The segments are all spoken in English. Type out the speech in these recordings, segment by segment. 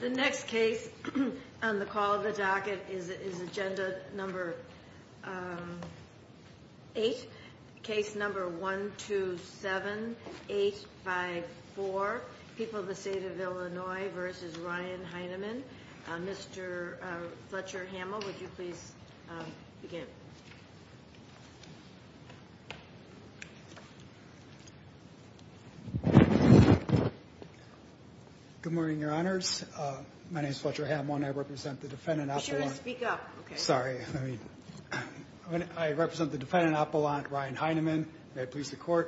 The next case on the call of the docket is agenda number 8, case number 127854, People of the State of Illinois v. Ryan Heineman. Mr. Fletcher Hamill, would you please begin? Good morning, Your Honors. My name is Fletcher Hamill, and I represent the defendant, Appelant. You should speak up. Sorry. I represent the defendant, Appelant, Ryan Heineman, and I represent the defendant,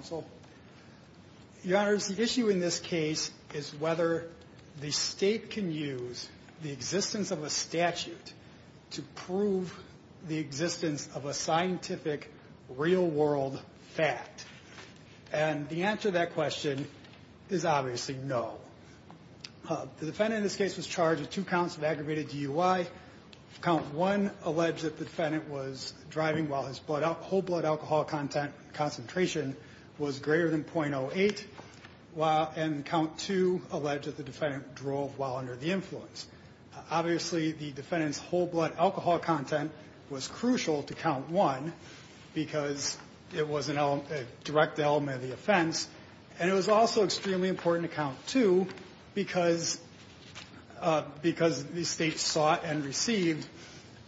Appelant, Ryan Heineman. The issue in this case is whether the state can use the existence of a statute to prove the existence of a scientific real-world fact. And the answer to that question is obviously no. The defendant in this case was charged with two counts of aggravated DUI. Count 1 alleged that the defendant was driving while his whole-blood alcohol content concentration was greater than .08, and Count 2 alleged that the defendant drove while under the influence. Obviously, the defendant's whole-blood alcohol content was crucial to Count 1 because it was a direct element of the offense, and it was also extremely important to Count 2 because the state sought and received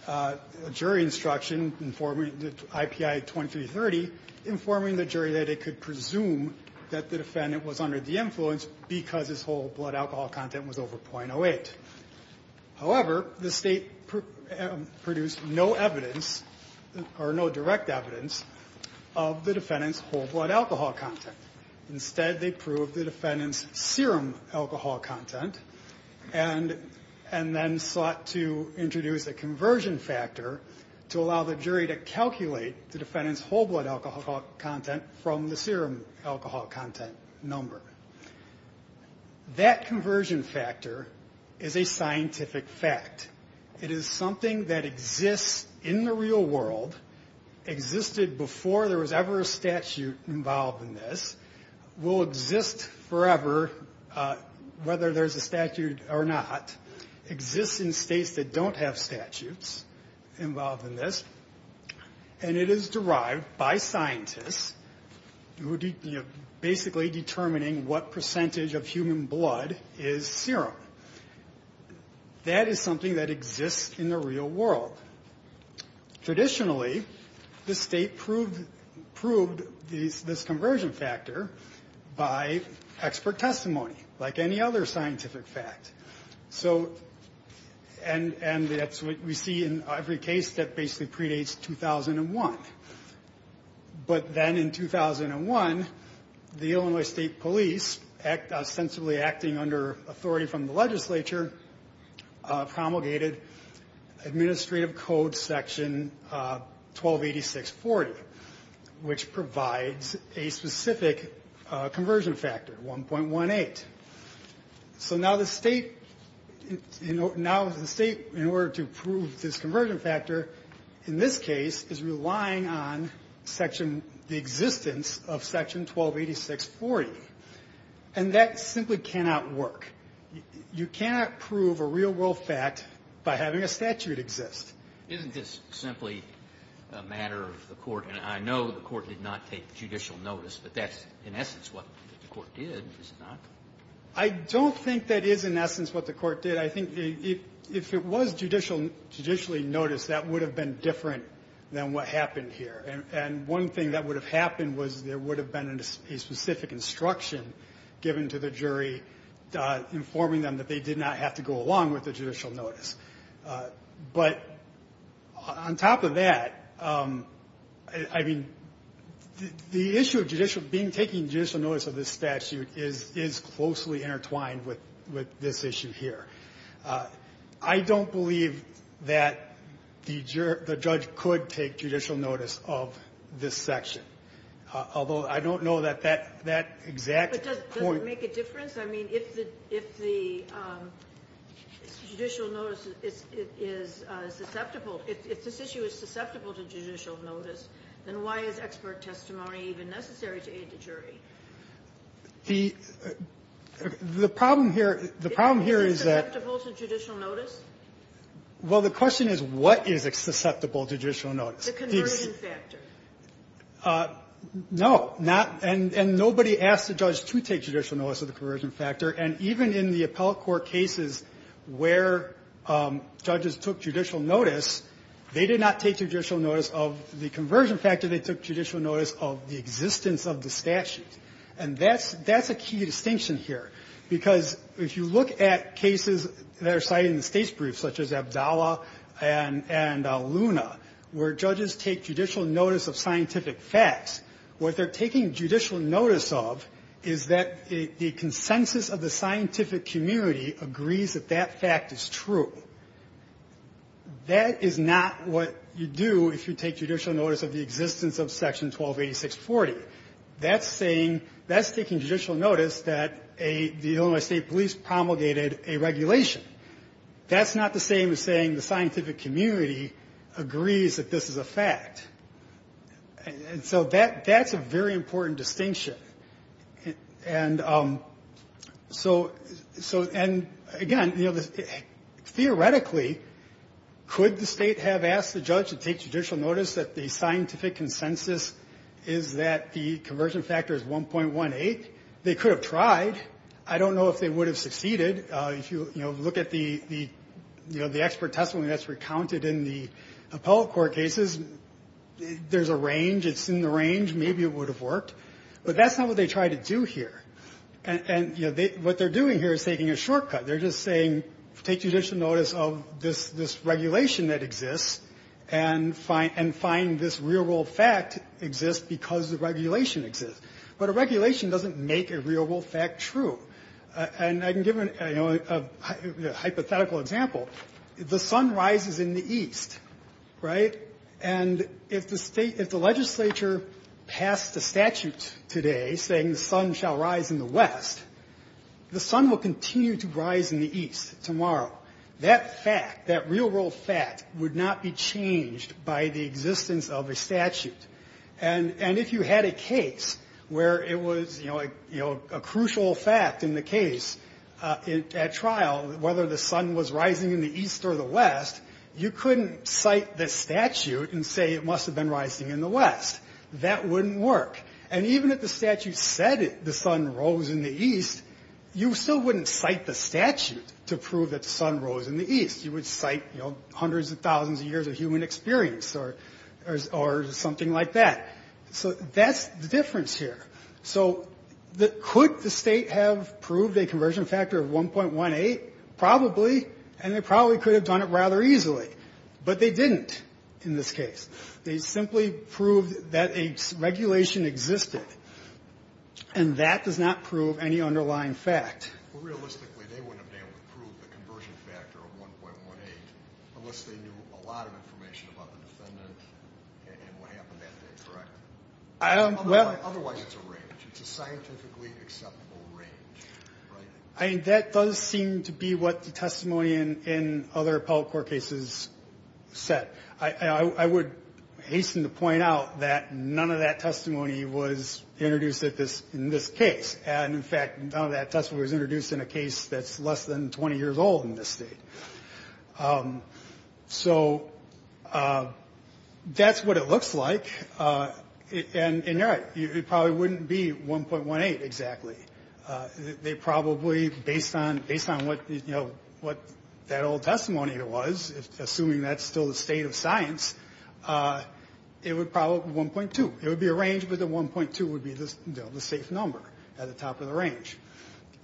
a IPI-2330 informing the jury that it could presume that the defendant was under the influence because his whole-blood alcohol content was over .08. However, the state produced no evidence or no direct evidence of the defendant's whole-blood alcohol content. Instead, they proved the defendant's serum alcohol content and then sought to introduce a conversion factor to allow the jury to calculate the defendant's whole-blood alcohol content from the serum alcohol content number. That conversion factor is a scientific fact. It is something that exists in the real world, existed before there was ever a statute involved in this, will exist forever whether there's a statute or not, exists in states that don't have statutes involved in this, and it is derived by scientists who are basically determining what percentage of human blood is serum. That is something that exists in the real world. Traditionally, the state proved this conversion factor by expert testimony like any other we see in every case that basically predates 2001. But then in 2001, the Illinois State Police, ostensibly acting under authority from the legislature, promulgated Administrative Code Section 128640, which provides a specific conversion factor, 1.18. So now the state in order to prove this conversion factor in this case is relying on section the existence of Section 128640. And that simply cannot work. You cannot prove a real-world fact by having a statute exist. Isn't this simply a matter of the Court? And I know the Court did not take judicial notice, but that's in essence what the Court did, is it not? I don't think that is in essence what the Court did. I think if it was judicially noticed, that would have been different than what happened here. And one thing that would have happened was there would have been a specific instruction given to the jury informing them that they did not have to go along with the judicial notice. But on top of that, I mean, the issue of judicial being taking judicial notice of this statute is closely intertwined with this issue here. I don't believe that the judge could take judicial notice of this section. Although, I don't know that that exact point — But does it make a difference? I mean, if the judicial notice is susceptible — if this issue is susceptible to judicial notice, then why is expert testimony even necessary to aid the jury? The problem here — the problem here is that — Is it susceptible to judicial notice? Well, the question is, what is susceptible to judicial notice? The conversion factor. No. And nobody asked the judge to take judicial notice of the conversion factor. And even in the appellate court cases where judges took judicial notice, they did not take judicial notice of the conversion factor. They took judicial notice of the And that's — that's a key distinction here. Because if you look at cases that are cited in the States' briefs, such as Abdallah and — and Luna, where judges take judicial notice of scientific facts, what they're taking judicial notice of is that the consensus of the scientific community agrees that that fact is true. That is not what you do if you take judicial notice of the existence of Section 1286.40. That's saying — that's taking judicial notice that a — the Illinois State Police promulgated a regulation. That's not the same as saying the scientific community agrees that this is a fact. And so that — that's a very important distinction. And so — so — and again, you know, theoretically, could the State have asked the judge to take judicial notice that the scientific consensus is that the conversion factor is 1.18? They could have tried. I don't know if they would have succeeded. If you, you know, look at the — the, you know, the expert testimony that's recounted in the appellate court cases, there's a range. It's in the range. Maybe it would have worked. But that's not what they tried to do here. And — and, you know, they — what they're doing here is taking a shortcut. They're just saying, take judicial notice of this — this regulation that exists and find — and find this real-world fact exists because the regulation exists. But a regulation doesn't make a real-world fact true. And I can give, you know, a hypothetical example. The sun rises in the east, right? And if the State — if the legislature passed a statute today saying the sun shall rise in the west, the sun will continue to rise in the east tomorrow. That fact, that real-world fact would not be changed by the existence of a statute. And — and if you had a case where it was, you know, a — you know, a crucial fact in the case at trial, whether the sun was rising in the east or the west, you couldn't cite the statute and say it must have been rising in the west. That wouldn't work. And even if the statute said the sun rose in the east, you still wouldn't cite the statute to prove that the sun rose in the east. You would cite, you know, hundreds of thousands of years of human experience or — or something like that. So that's the difference here. So could the State have proved a conversion factor of 1.18? Probably. And they probably could have done it rather easily. But they didn't in this case. They simply proved that a regulation existed. And that does not prove any underlying fact. Well, realistically, they wouldn't have been able to prove the conversion factor of 1.18 unless they knew a lot of information about the defendant and what happened that day, correct? I don't — Otherwise, it's a range. It's a scientifically acceptable range, right? I mean, that does seem to be what the testimony in — in other appellate court cases said. I would hasten to point out that none of that testimony was introduced at this — in this case. And, in fact, none of that testimony was introduced in a case that's less than 20 years old in this State. So that's what it looks like. And you're right. It probably wouldn't be 1.18 exactly. They probably, based on — based on what, you know, what that old testimony was, assuming that's still the state of science, it would probably be 1.2. It would be a range, but the 1.2 would be the safe number at the top of the range.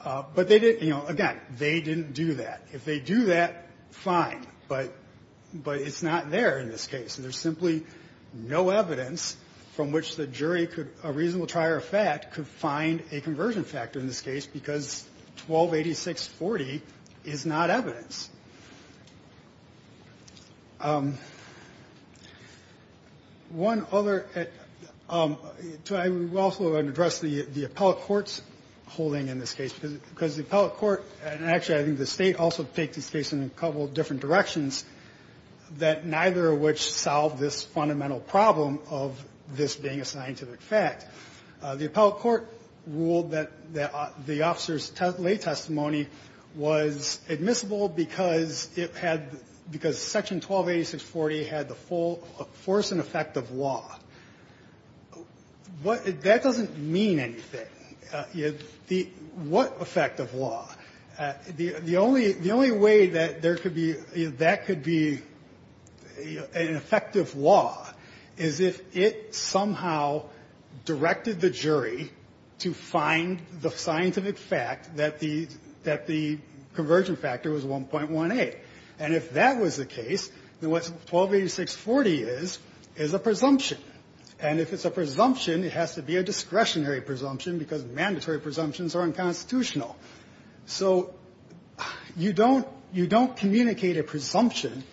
But they didn't — you know, again, they didn't do that. If they do that, fine, but — but it's not there in this case. And there's simply no evidence from which the jury could — a reasonable trier of fact could find a conversion factor in this case because 1.28640 is not evidence. One other — I also want to address the appellate court's holding in this case, because the appellate court — and, actually, I think the State also takes this case in a couple different directions — that neither of which solved this fundamental problem of this being a scientific fact. The appellate court ruled that the officer's lay testimony was admissible because it had — because Section 1.28640 had the full force and effect of law. What — that doesn't mean anything. The — what effect of law? The only — the only way that there could be — that could be an effective law is if it somehow directed the jury to find the scientific fact that the — that the conversion factor was 1.18. And if that was the case, then what 128640 is is a presumption. And if it's a presumption, it has to be a discretionary presumption because mandatory presumptions are unconstitutional. So you don't — you don't communicate a presumption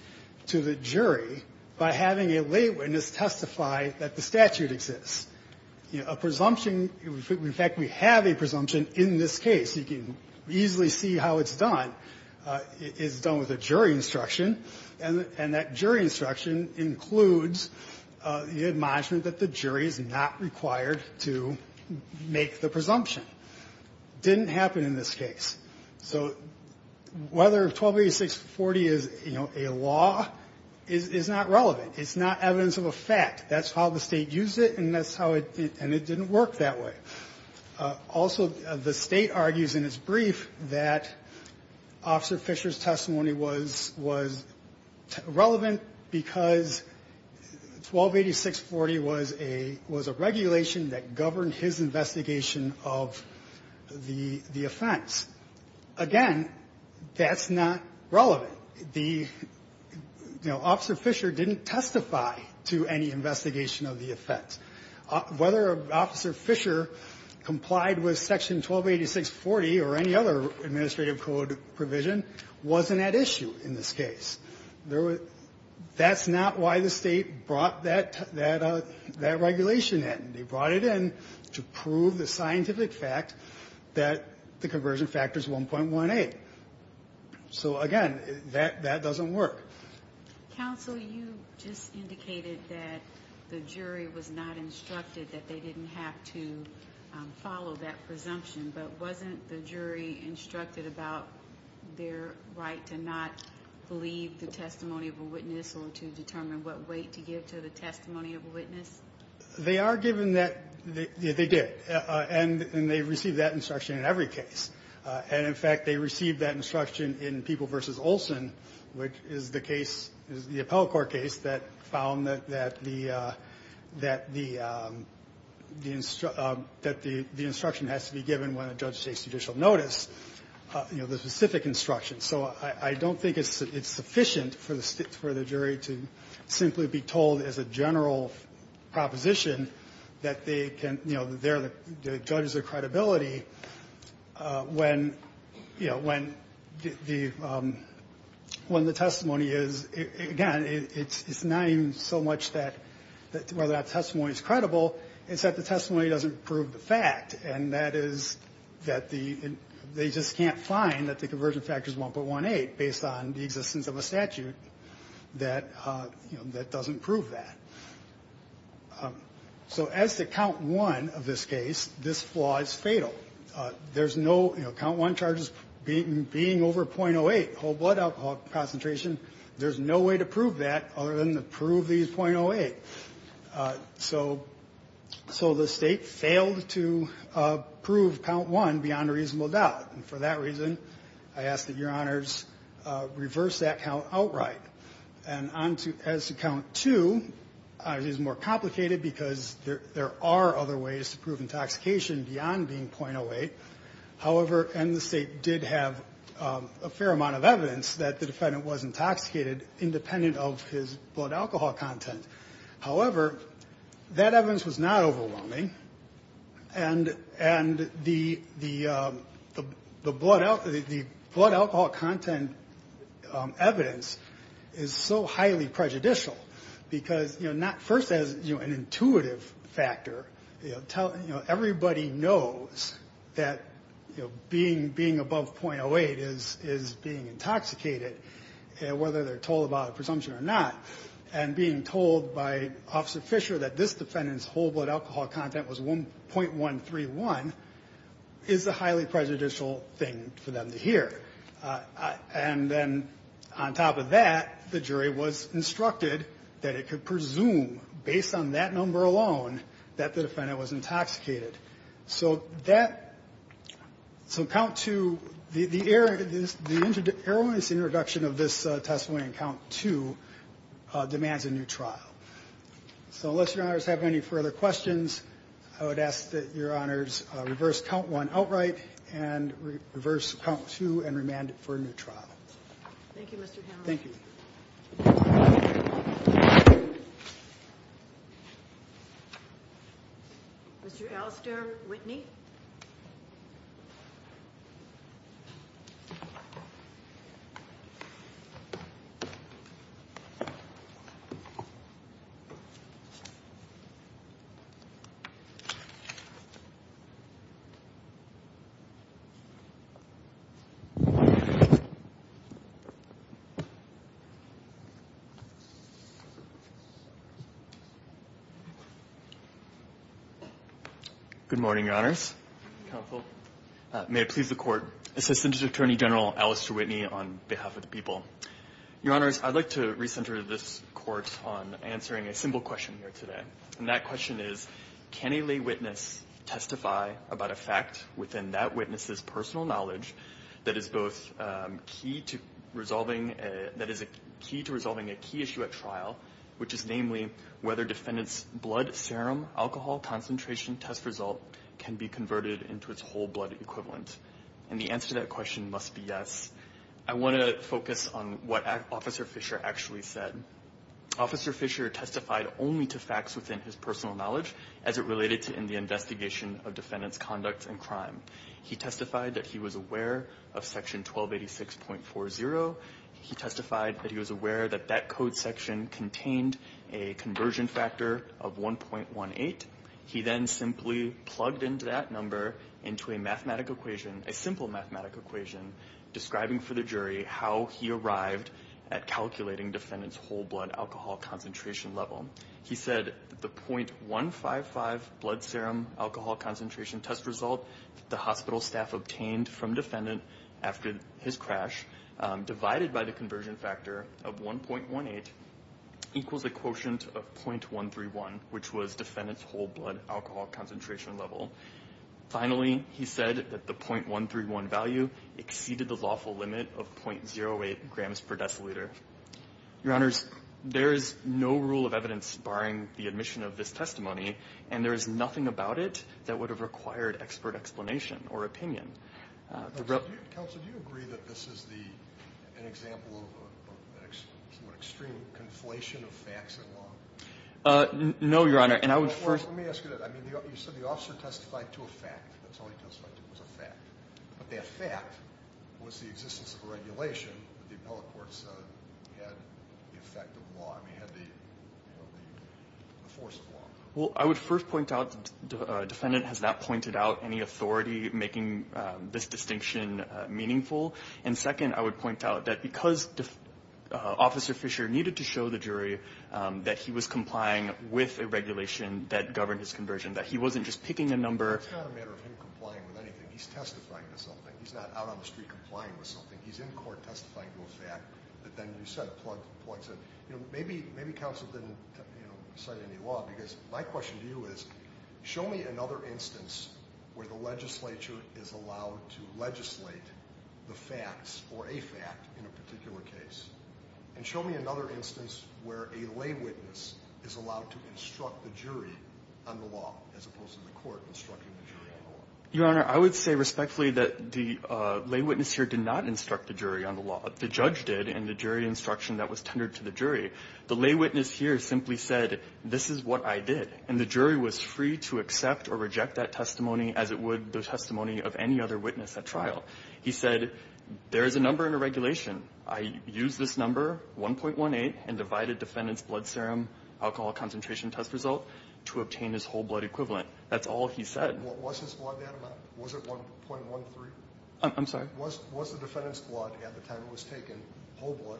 to the jury by having a lay witness testify that the statute exists. A presumption — in fact, we have a presumption in this case. You can easily see how it's done. It's done with a jury instruction. And that jury instruction includes the admonishment that the jury is not required to make the presumption. Didn't happen in this case. So whether 128640 is, you know, a law is not relevant. It's not evidence of a fact. That's how the state used it, and that's how it — and it didn't work that way. Also, the state argues in its brief that Officer Fisher's testimony was relevant because 128640 was a — was a regulation that governed his investigation of the offense. Again, that's not relevant. The — you know, Officer Fisher didn't testify to any investigation of the offense. Whether Officer Fisher complied with Section 128640 or any other administrative code provision wasn't at issue in this case. There was — that's not why the state brought that regulation in. They brought it in to prove the scientific fact that the conversion factor is 1.18. So again, that doesn't work. Counsel, you just indicated that the jury was not instructed that they didn't have to follow that presumption. But wasn't the jury instructed about their right to not believe the testimony of a witness or to determine what weight to give to the testimony of a witness? They are given that — they did. And they received that instruction in every case. And in fact, they received that instruction in People v. Olson, which is the case — is the appellate court case that found that the — that the — that the instruction has to be given when a judge takes judicial notice, you know, the specific instruction. So I don't think it's sufficient for the jury to simply be told as a general proposition that they can — you know, they're the — the judges of credibility when, you know, when the — you know, the jury is told that they have to believe the testimony of a witness. When the testimony is — again, it's not even so much that — whether that testimony is credible, it's that the testimony doesn't prove the fact. And that is that the — they just can't find that the conversion factor is 1.18 based on the existence of a statute that, you know, that doesn't prove that. So as to count one of this case, this flaw is fatal. There's no — you know, count one charges being over 0.08, whole blood alcohol concentration. There's no way to prove that other than to prove these 0.08. So the state failed to prove count one beyond a reasonable doubt. And for that reason, I ask that your honors reverse that count outright. And as to count two, it is more complicated because there are other ways to prove intoxication beyond being 0.08. However, and the state did have a fair amount of evidence that the defendant was intoxicated independent of his blood alcohol content. However, that evidence was not overwhelming, and the blood alcohol content evidence is so highly prejudicial. Because, you know, not — first as, you know, an intuitive factor, you know, tell — you know, everybody knows that the defendant was intoxicated. That, you know, being above 0.08 is being intoxicated, whether they're told about a presumption or not. And being told by Officer Fisher that this defendant's whole blood alcohol content was 0.131 is a highly prejudicial thing for them to hear. And then on top of that, the jury was instructed that it could presume, based on that number alone, that the defendant was intoxicated. So that — so count two, the error — the error in this introduction of this testimony in count two demands a new trial. So unless your honors have any further questions, I would ask that your honors reverse count one outright and reverse count two and remand it for a new trial. Thank you, Mr. Hanlon. Thank you. Mr. Alastair Whitney. Good morning, your honors, counsel. May it please the court, Assistant Attorney General Alastair Whitney on behalf of the people. Your honors, I'd like to recenter this court on answering a simple question here today. And that question is, can a lay witness testify about a fact within that witness's personal knowledge that is both key to resolving that defendant's conduct and crime, and that is key to resolving a key issue at trial, which is namely whether defendant's blood serum alcohol concentration test result can be converted into its whole blood equivalent? And the answer to that question must be yes. I want to focus on what Officer Fisher actually said. Officer Fisher testified only to facts within his personal knowledge as it related to the investigation of defendant's conduct and crime. He testified that he was aware that that code section contained a conversion factor of 1.18. He then simply plugged into that number into a mathematical equation, a simple mathematical equation, describing for the jury how he arrived at calculating defendant's whole blood alcohol concentration level. He said the .155 blood serum alcohol concentration test result the hospital staff obtained from defendant after his crash divided by the conversion factor of 1.18 equals a quotient of .131, which was defendant's whole blood alcohol concentration level. Finally, he said that the .131 value exceeded the lawful limit of .08 grams per deciliter. Your Honors, there is no rule of evidence barring the admission of this testimony, and there is nothing about it that would have required expert explanation or opinion. Counsel, do you agree that this is an example of an extreme conflation of facts and law? No, Your Honor. You said the officer testified to a fact. That's all he testified to was a fact. But that fact was the existence of a regulation that the appellate courts had the force of law. Well, I would first point out the defendant has not pointed out any authority making this distinction meaningful. And second, I would point out that because Officer Fisher needed to show the jury that he was complying with a regulation that governed his conversion, that he wasn't just picking a number. It's not a matter of him complying with anything. He's testifying to something. He's not out on the street complying with something. He's in court testifying to a fact. But then you said, maybe counsel didn't cite any law, because my question to you is, show me another instance where the legislature is allowed to legislate the facts or a fact in a particular case. And show me another instance where a lay witness is allowed to instruct the jury on the law as opposed to the court instructing the jury on the law. Your Honor, I would say respectfully that the lay witness here did not instruct the jury on the law. The judge did, and the jury instruction that was tendered to the jury. The lay witness here simply said, this is what I did. And the jury was free to accept or reject that testimony as it would the testimony of any other witness at trial. He said, there is a number in the regulation. I use this number, 1.18, and divided defendant's blood serum alcohol concentration test result to obtain his whole blood equivalent. That's all he said. Was his blood that amount? Was it 1.13? I'm sorry? Was the defendant's blood at the time it was taken, whole blood,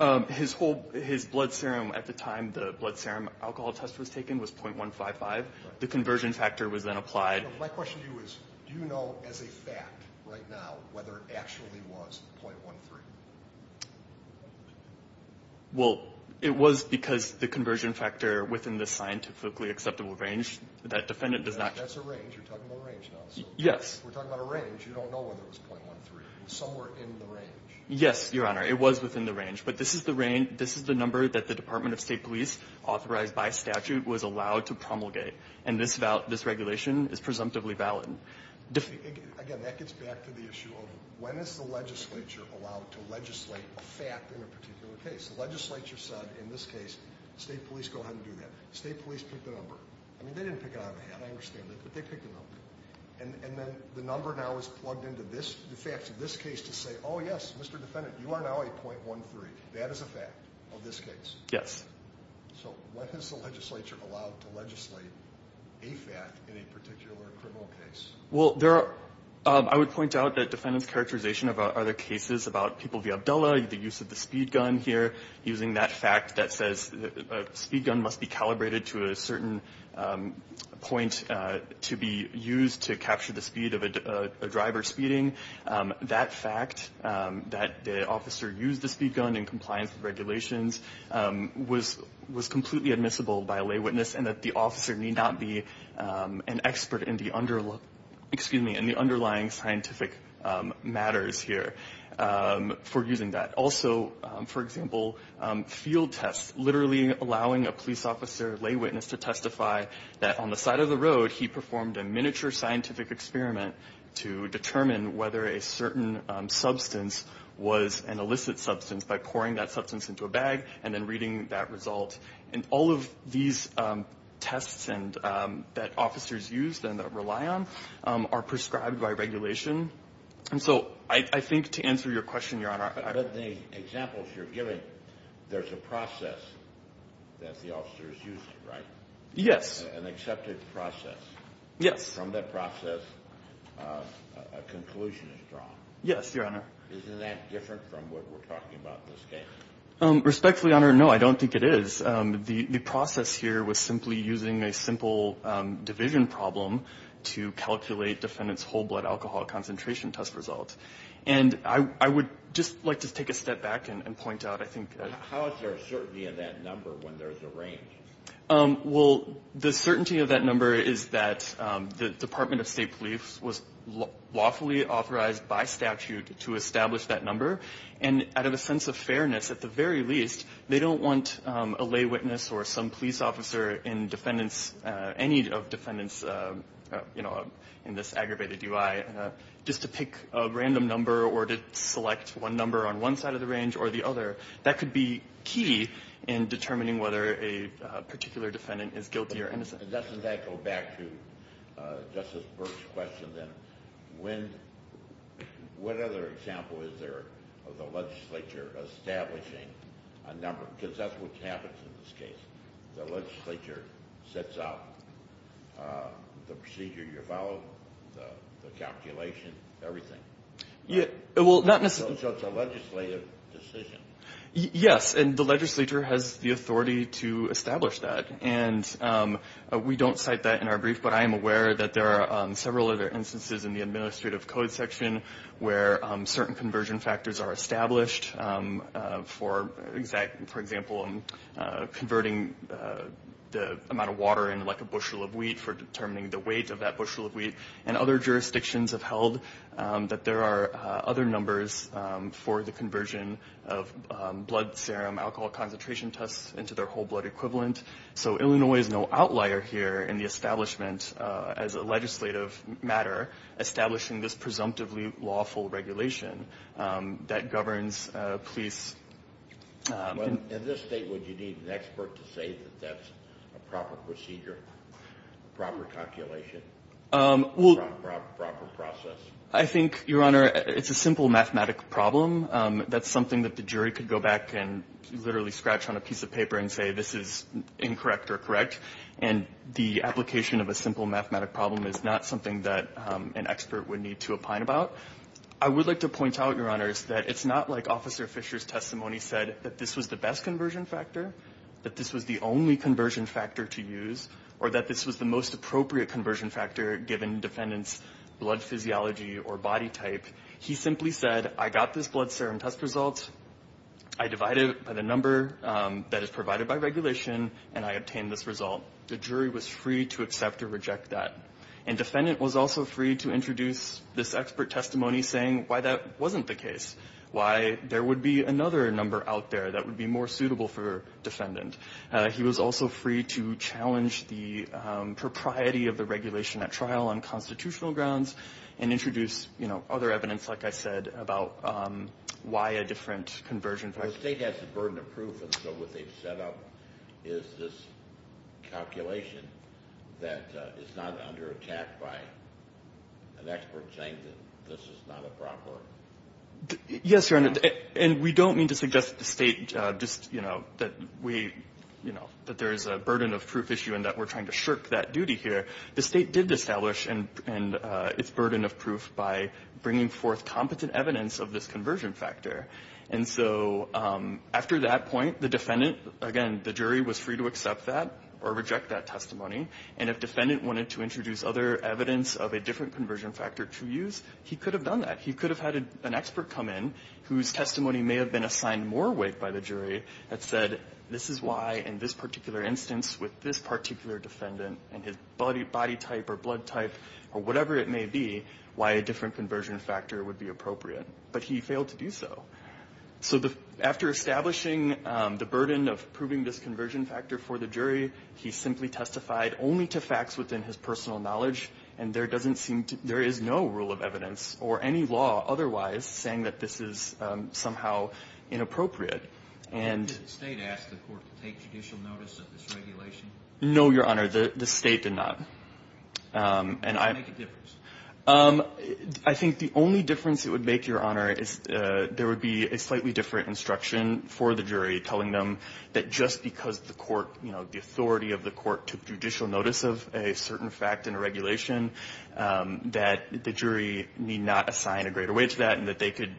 a .13? His blood serum at the time the blood serum alcohol test was taken was .155. The conversion factor was then applied. My question to you is, do you know as a fact right now whether it actually was .13? Well, it was because the conversion factor within the scientifically acceptable range, that defendant does not... That's a range. You're talking about a range now. Yes. We're talking about a range. You don't know whether it was .13. Somewhere in the range. Yes, Your Honor. It was within the range. But this is the range, this is the number that the Department of State Police authorized by statute was allowed to promulgate. And this regulation is presumptively valid. Again, that gets back to the issue of, when is the legislature allowed to legislate a fact in a particular case? The legislature said, in this case, state police go ahead and do that. State police picked the number. I mean, they didn't pick it out of the hat, I understand that, but they picked the number. And then the number now is plugged into the facts of this case to say, oh yes, Mr. Defendant, you are now a .13. That is a fact of this case? Yes. So, when is the legislature allowed to legislate a fact in a particular criminal case? Well, I would point out that defendants' characterization of other cases about people via Abdullah, the use of the speed gun here, using that fact that says a speed gun must be calibrated to a certain point to be used to capture the speed of a driver speeding. That fact, that the officer used the speed gun in compliance with regulations, was completely admissible by a lay witness, and that the officer need not be an expert in the underlying scientific matters here for using that. Also, for example, field tests, literally allowing a police officer, lay witness, to testify that on the side of the road he performed a miniature scientific experiment to determine whether a certain substance was an illicit substance by pouring that substance into a bag and then reading that result. And all of these tests that officers used and that rely on are prescribed by regulation. And so, I think to answer your question, Your Honor... But in the examples you're giving, there's a process that the officers used, right? Yes. An accepted process. From that process, a conclusion is drawn. Yes, Your Honor. Isn't that different from what we're talking about in this case? Respectfully, Your Honor, no, I don't think it is. The process here was simply using a simple division problem to calculate defendant's whole blood alcohol concentration test result. And I would just like to take a step back and point out, I think... How is there a certainty of that number when there's a range? Well, the certainty of that number is that the Department of State Police was lawfully authorized by statute to establish that number. And out of a sense of fairness, at the very least, they don't want a lay witness or some police officer in defendants... Any of defendants in this aggravated DUI just to pick a random number or to select one number on one side of the range or the other. That could be key in determining whether a particular defendant is guilty or innocent. Doesn't that go back to Justice Burke's question then? What other example is there of the legislature establishing a number? Because that's what happens in this case. The legislature sets out the procedure you follow, the calculation, everything. So it's a legislative decision. Yes, and the legislature has the authority to establish that. And we don't cite that in our brief, but I am aware that there are several other instances in the administrative code section where certain conversion factors are established. For example, converting the amount of water into like a bushel of wheat for determining the weight of that bushel of wheat. And other jurisdictions have held that there are other numbers for the conversion of blood serum, alcohol concentration tests into their whole blood equivalent. So Illinois is no outlier here in the establishment as a legislative matter, establishing this presumptively lawful regulation that governs police... In this state, would you need an expert to say that that's a proper procedure, a proper calculation, a proper process? I think, Your Honor, it's a simple mathematic problem. That's something that the jury could go back and literally scratch on a piece of paper and say, this is incorrect or correct. And the application of a simple mathematic problem is not something that an expert would need to opine about. I would like to point out, Your Honors, that it's not like Officer Fisher's testimony said that this was the best conversion factor, that this was the only conversion factor to use, or that this was the most appropriate conversion factor given defendant's blood physiology or body type. He simply said, I got this blood serum test result, I divided it by the number that is provided by regulation, and I obtained this result. The jury was free to accept or reject that. And defendant was also free to introduce this expert testimony saying why that wasn't the case, why there would be another number out there that would be more suitable for defendant. He was also free to challenge the propriety of the regulation at trial on constitutional grounds and make comments, like I said, about why a different conversion factor. The state has the burden of proof, and so what they've set up is this calculation that is not under attack by an expert saying that this is not appropriate. Yes, Your Honor, and we don't mean to suggest to the state that there is a burden of proof issue and that we're trying to shirk that duty here. The state did establish its burden of proof by bringing forth competent evidence of this conversion factor. And so after that point, the defendant, again, the jury was free to accept that or reject that testimony, and if defendant wanted to introduce other evidence of a different conversion factor to use, he could have done that. He could have had an expert come in whose testimony may have been assigned more weight by the jury that said this is why in this particular instance with this particular defendant and his body type, or blood type, or whatever it may be, why a different conversion factor would be appropriate, but he failed to do so. So after establishing the burden of proving this conversion factor for the jury, he simply testified only to facts within his personal knowledge and there is no rule of evidence or any law otherwise saying that this is somehow inappropriate. And... No, Your Honor, the state did not. I think the only difference it would make, Your Honor, is there would be a slightly different instruction for the jury telling them that just because the court, you know, the authority of the court took judicial notice of a certain fact in a regulation, that the jury need not assign a greater weight to that and that they could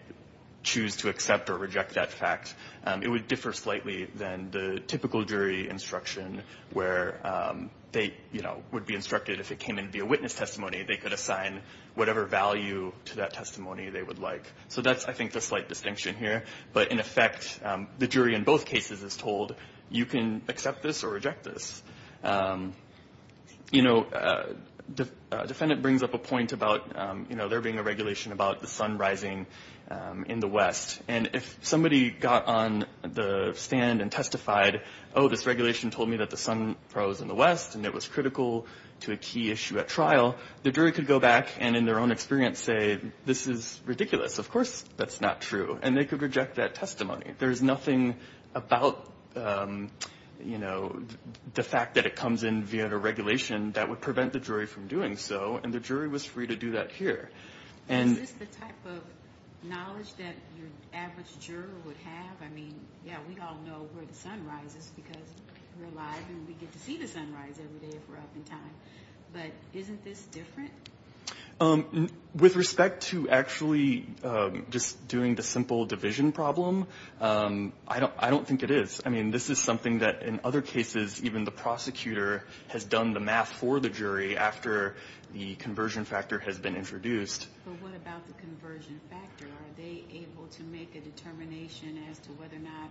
choose to accept or reject that fact. It would differ slightly than the typical jury instruction where they, you know, would be instructed, if it came in via witness testimony, they could assign whatever value to that testimony they would like. So that's, I think, the slight distinction here, but in effect, the jury in both cases is told, you can accept this or reject this. You know, the defendant brings up a point about, you know, there being a regulation about the sun rising in the West, and if somebody got on the stand and testified, oh, this regulation told me that the sun rose in the West and it was critical to a key issue at trial, the jury could go back and in their own experience say, this is ridiculous, of course that's not true, and they could reject that testimony. There's nothing about, you know, the fact that it comes in via the regulation that would prevent the jury from doing so, and the jury was free to do that here. I mean, that's what the average juror would have, I mean, yeah, we all know where the sun rises because we're alive and we get to see the sun rise every day if we're up in time, but isn't this different? With respect to actually just doing the simple division problem, I don't think it is. I mean, this is something that in other cases, even the prosecutor has done the math for the jury after the conversion factor has been introduced. But what about the conversion factor? Are they able to make a determination as to whether or not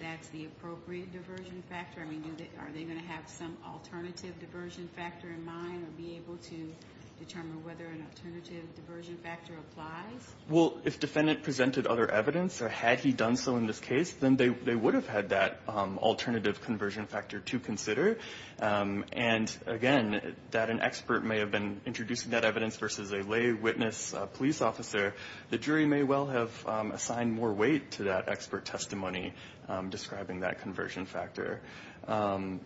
that's the appropriate diversion factor? I mean, are they going to have some alternative diversion factor in mind or be able to determine whether an alternative diversion factor applies? Well, if defendant presented other evidence or had he done so in this case, then they would have had that alternative conversion factor to consider, and again, that an expert may have been introducing that evidence versus a lay witness police officer, the jury may well have assigned more weight to that expert testimony describing that conversion factor.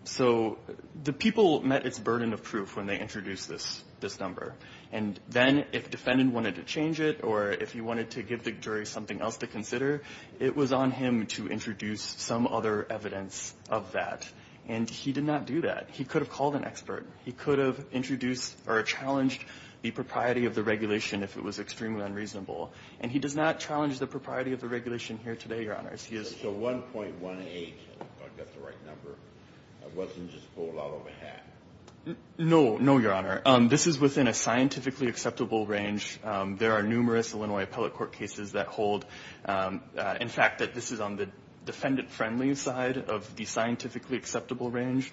So the people met its burden of proof when they introduced this number, and then if defendant wanted to change it or if he wanted to give the jury something else to consider, it was on him to introduce some other evidence of that, and he did not have to do that. He could have called an expert. He could have introduced or challenged the propriety of the regulation if it was extremely unreasonable. And he does not challenge the propriety of the regulation here today, Your Honors. So 1.18, I've got the right number, wasn't just full all over half? No, no, Your Honor. This is within a scientifically acceptable range. There are numerous Illinois appellate court cases that hold, in fact, that this is on the defendant-friendly side of the scientifically acceptable range,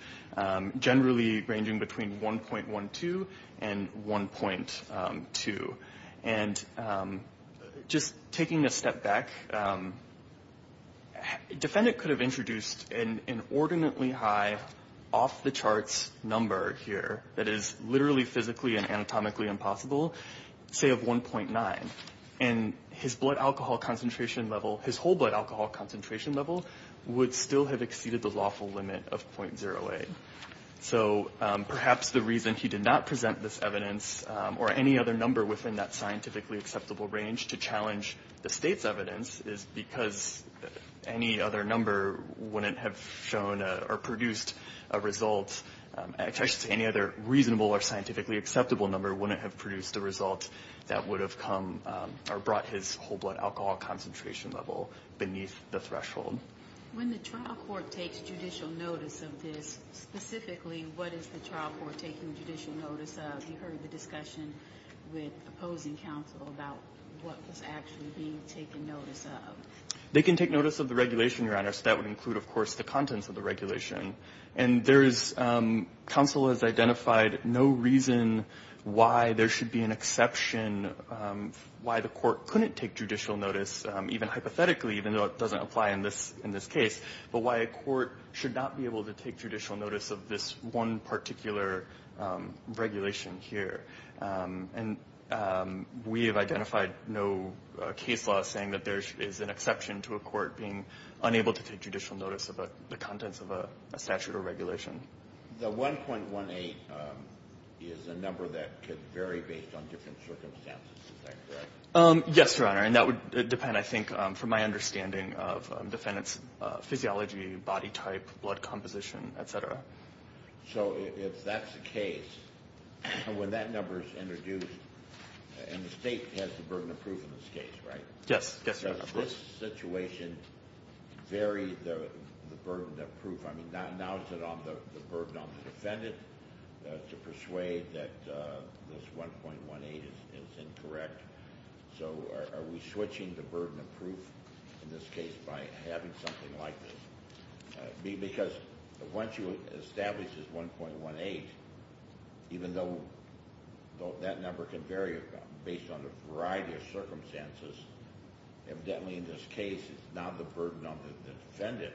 generally ranging between 1.12 and 1.2. And just taking a step back, defendant could have introduced an inordinately high off-the-charts number here that is literally physically and anatomically impossible, say of 1.9. And his blood alcohol concentration level, his whole blood alcohol concentration level, would still have exceeded the lawful limit of .08. So perhaps the reason he did not present this evidence or any other number within that scientifically acceptable range to challenge the state's evidence is because any other number wouldn't have shown or produced a result, any other reasonable or scientifically acceptable number wouldn't have produced a result that would have come or brought his whole blood alcohol concentration level beneath the threshold. When the trial court takes judicial notice of this, specifically, what is the trial court taking judicial notice of? You heard the discussion with opposing counsel about what was actually being taken notice of. They can take notice of the regulation, Your Honor. So that would include, of course, the contents of the regulation. And counsel has identified no reason why there should be an exception, why the court couldn't take judicial notice, even hypothetically, even though it doesn't apply in this case, but why a court should not be able to take judicial notice of this one particular regulation here. And we have identified no case law saying that there is an exception to a court being unable to take judicial notice of the contents of a statute or regulation. The 1.18 is a number that could vary based on different circumstances. Is that correct? Yes, Your Honor. And that would depend, I think, from my understanding of defendant's physiology, body type, blood composition, et cetera. So if that's the case, when that number is introduced, and the state has the burden of proof in this case, right? Yes. Does this situation vary the burden of proof? I mean, now is it on the burden on the defendant to persuade that this 1.18 is incorrect? So are we switching the burden of proof in this case by having something like this? Because once you establish this 1.18, even though that number can vary based on a variety of circumstances, evidently in this case it's not the burden on the defendant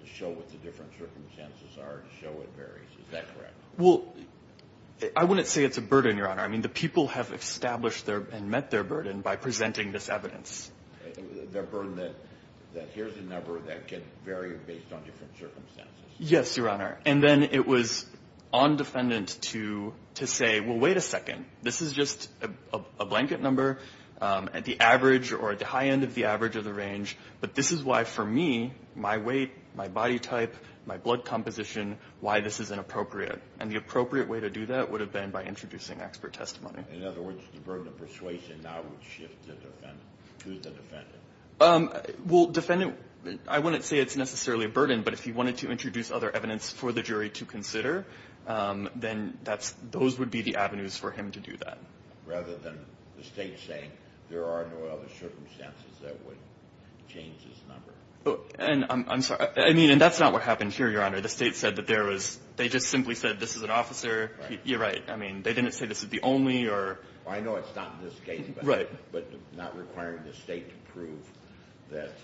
to show what the different circumstances are, to show what varies. Is that correct? Well, I wouldn't say it's a burden, Your Honor. I mean, the people have established and met their burden by presenting this evidence. The burden that here's a number that can vary based on different circumstances. Yes, Your Honor. And then it was on defendant to say, well, wait a second. This is just a blanket number at the average or at the high end of the average of the range. But this is why for me, my weight, my body type, my blood composition, why this is inappropriate. And the appropriate way to do that would have been by introducing expert testimony. In other words, the burden of persuasion now would shift to the defendant. Well, defendant, I wouldn't say it's necessarily a burden, but if he wanted to introduce other evidence for the jury to consider, then that's, those would be the avenues for him to do that. Rather than the State saying there are no other circumstances that would change this number. And I'm sorry. I mean, and that's not what happened here, Your Honor. The State said that there was, they just simply said this is an officer. You're right. I mean, they didn't say this is the only or. I know it's not in this case. Right. But not requiring the State to prove that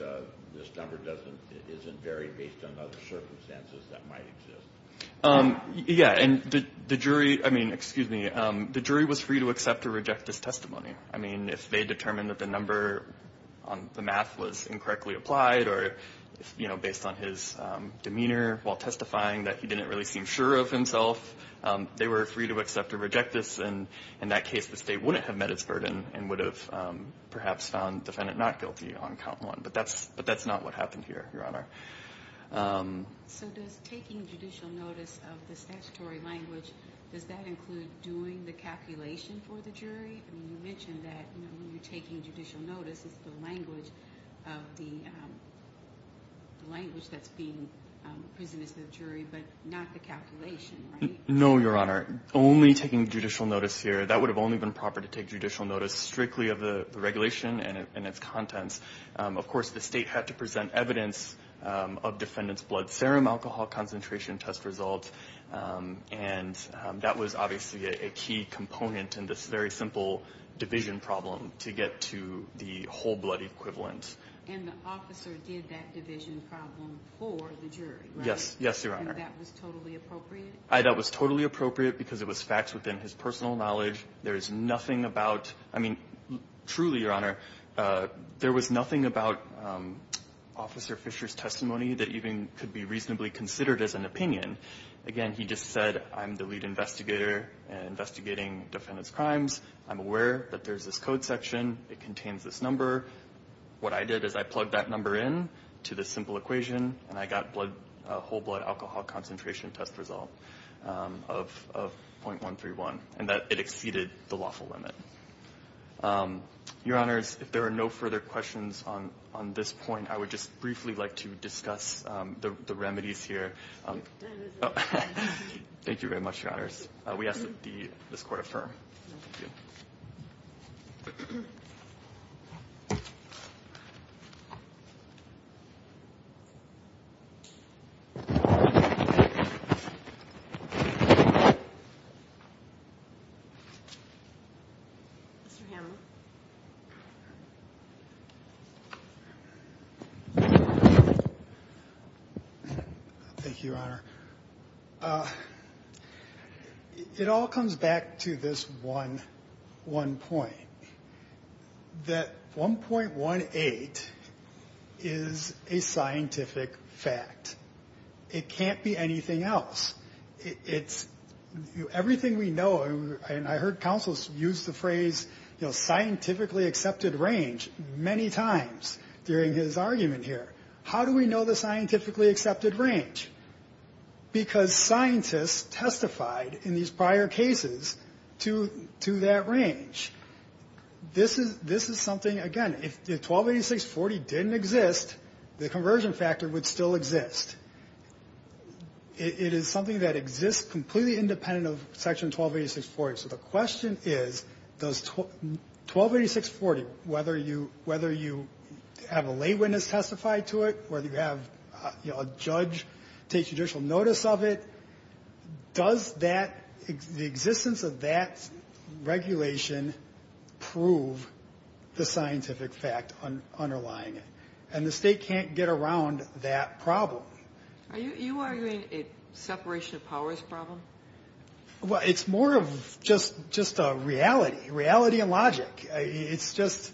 this number doesn't, isn't varied based on other circumstances that might exist. Yeah. And the jury, I mean, excuse me, the jury was free to accept or reject this testimony. I mean, if they determined that the number on the math was incorrectly applied or, you know, based on his demeanor while testifying that he didn't really seem sure of himself, they were free to accept or reject this. And in that case, the State wouldn't have met its burden and would have perhaps found defendant not guilty on count one. But that's, but that's not what happened here, Your Honor. So does taking judicial notice of the statutory language, does that include doing the calculation for the jury? I mean, you mentioned that when you're taking judicial notice, it's the language of the language that's being presented to the jury, but not the calculation, right? No, Your Honor. Only taking judicial notice here. That would have only been proper to take judicial notice strictly of the regulation and its contents. Of course, the State had to present evidence of defendant's blood serum, alcohol concentration test results. And that was obviously a key component in this very simple division problem to get to the whole blood equivalent. And the officer did that division problem for the jury, right? Yes. Yes, Your Honor. And that was totally appropriate? That was totally appropriate because it was facts within his personal knowledge. There is nothing about, I mean, truly, Your Honor, there was nothing about Officer Fisher's testimony that even could be reasonably considered as an opinion. Again, he just said, I'm the lead investigator investigating defendant's crimes. I'm aware that there's this code section. It contains this number. What I did is I plugged that number in to this simple equation, and I got a whole blood alcohol concentration test result of .131, and it exceeded the lawful limit. Your Honors, if there are no further questions on this point, I would just briefly like to discuss the remedies here. Thank you very much, Your Honors. We ask that this Court affirm. Thank you. Mr. Hammond. Thank you, Your Honor. It all comes back to this one point, that 1.18 is a scientific fact. It can't be anything else. Everything we know, and I heard counsels use the phrase, you know, scientifically accepted range many times during his argument here. How do we know the scientifically accepted range? Because scientists testified in these prior cases to that range. This is something, again, if 1286.40 didn't exist, the conversion factor would still exist. It is something that exists completely independent of Section 1286.40. So the question is, does 1286.40, whether you have a lay witness testify to it, whether you have a judge take judicial notice of it, does the existence of that regulation prove the scientific fact underlying it? And the state can't get around that problem. Are you arguing a separation of powers problem? Well, it's more of just a reality, reality and logic. It's just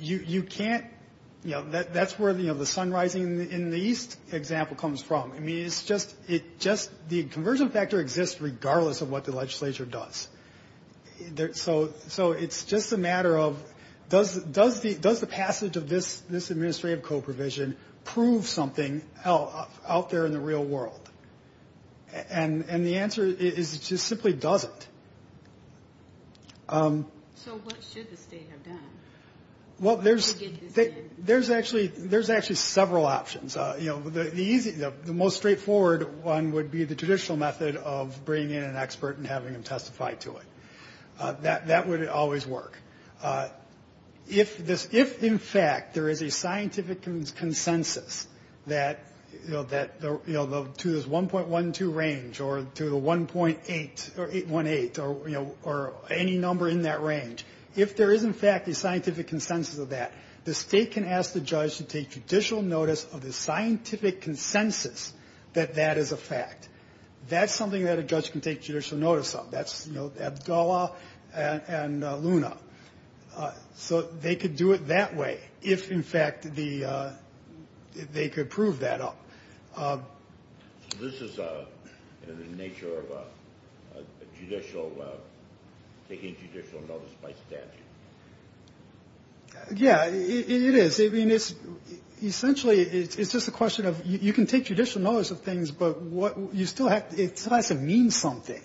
you can't, you know, that's where the sun rising in the east example comes from. I mean, it's just the conversion factor exists regardless of what the legislature does. So it's just a matter of does the passage of this administrative co-provision prove something out there in the real world? And the answer is it just simply doesn't. So what should the state have done? Well, there's actually several options. You know, the most straightforward one would be the traditional method of bringing in an expert and having him testify to it. That would always work. If in fact there is a scientific consensus that, you know, to this 1.12 range or to the 1.8 or 818 or, you know, or any number in that range, if there is in fact a scientific consensus of that, the state can ask the judge to take judicial notice of the scientific consensus that that is a fact. That's something that a judge can take judicial notice of. That's, you know, Abdullah and Luna. So they could do it that way if, in fact, they could prove that up. This is the nature of judicial, taking judicial notice by statute. Yeah, it is. I mean, essentially it's just a question of you can take judicial notice of things, but you still have to mean something.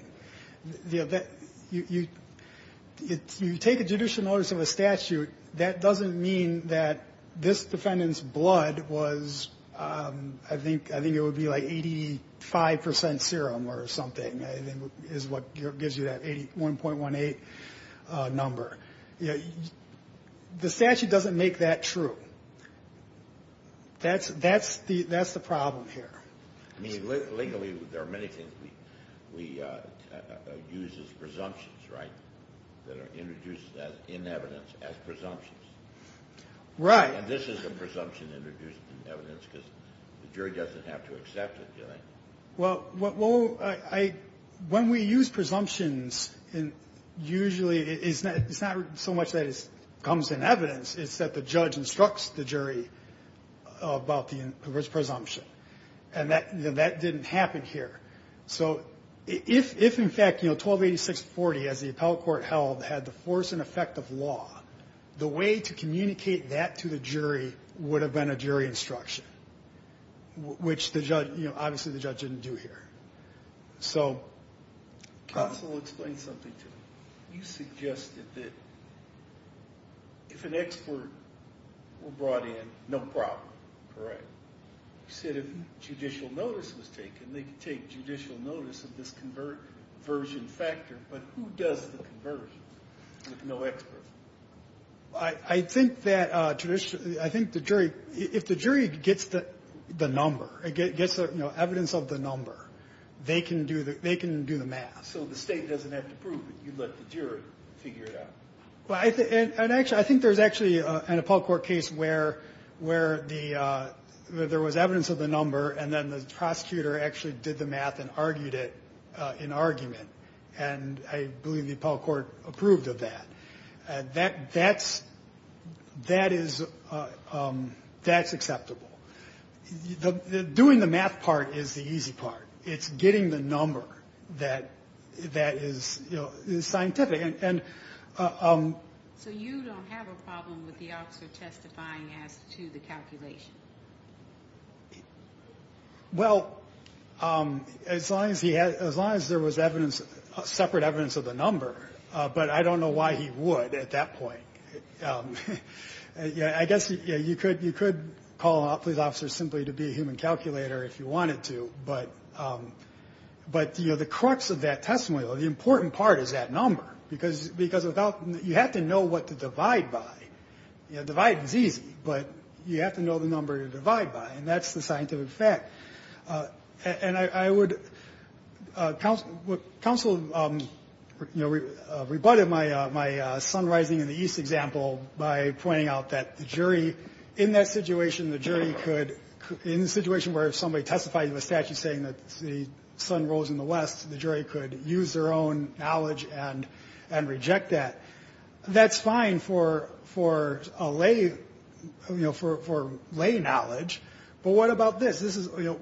You know, you take a judicial notice of a statute. That doesn't mean that this defendant's blood was, I think it would be like 85 percent serum or something, is what gives you that 81.18 number. The statute doesn't make that true. That's the problem here. I mean, legally there are many things we use as presumptions, right, that are introduced in evidence as presumptions. Right. And this is a presumption introduced in evidence because the jury doesn't have to accept it, do they? Well, when we use presumptions, usually it's not so much that it comes in evidence. It's that the judge instructs the jury about the presumption. And that didn't happen here. So if, in fact, you know, 1286-40, as the appellate court held, had the force and effect of law, the way to communicate that to the jury would have been a jury instruction, which, you know, obviously the judge didn't do here. Counsel, explain something to me. You suggested that if an expert were brought in, no problem. Correct. You said if judicial notice was taken, they could take judicial notice of this conversion factor. But who does the conversion if no expert? I think that traditionally, I think the jury, if the jury gets the number, gets evidence of the number, they can do the math. So the State doesn't have to prove it. You let the jury figure it out. Well, I think there's actually an appellate court case where there was evidence of the number, and then the prosecutor actually did the math and argued it in argument. And I believe the appellate court approved of that. That's acceptable. Doing the math part is the easy part. It's getting the number that is scientific. So you don't have a problem with the officer testifying as to the calculation? Well, as long as there was separate evidence of the number, but I don't know why he would at that point. I guess you could call a police officer simply to be a human calculator if you wanted to, but the crux of that testimony, the important part is that number, because you have to know what to divide by. Divide is easy, but you have to know the number to divide by, and that's the scientific fact. Council rebutted my sun rising in the east example by pointing out that the jury, in that situation, the jury could, in the situation where somebody testified in the statute saying that the sun rose in the west, the jury could use their own knowledge and reject that. That's fine for lay knowledge, but what about this? This is, you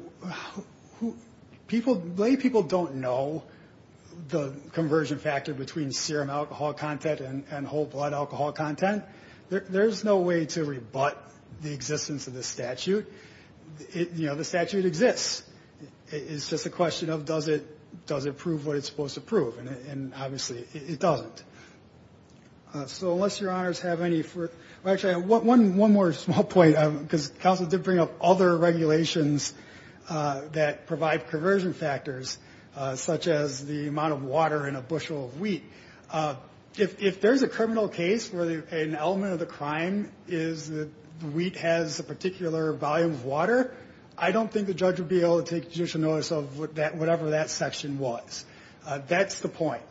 know, people, lay people don't know the conversion factor between serum alcohol content and whole blood alcohol content. There's no way to rebut the existence of the statute. You know, the statute exists. It's just a question of does it prove what it's supposed to prove, and obviously it doesn't. So unless your honors have any further, actually, one more small point, because council did bring up other regulations that provide conversion factors, such as the amount of water in a bushel of wheat. If there's a criminal case where an element of the crime is that the wheat has a particular volume of water, I don't think the judge would be able to take judicial notice of whatever that section was. That's the point.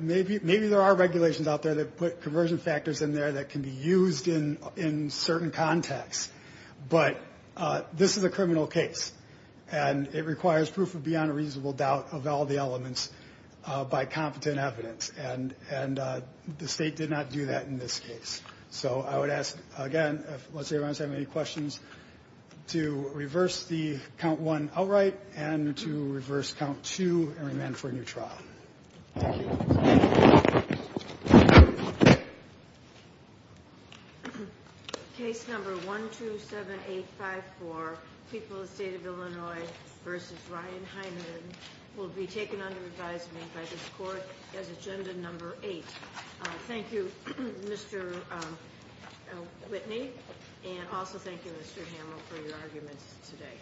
Maybe there are regulations out there that put conversion factors in there that can be used in certain contexts, but this is a criminal case, and it requires proof of beyond a reasonable doubt of all the elements by competent evidence, and the state did not do that in this case. So I would ask, again, unless your honors have any questions, to reverse the count one outright and to reverse count two and remand for a new trial. Thank you. Case number 127854, People of the State of Illinois v. Ryan Heineman, will be taken under advisement by this Court as agenda number eight. Thank you, Mr. Whitney, and also thank you, Mr. Hamill, for your arguments today.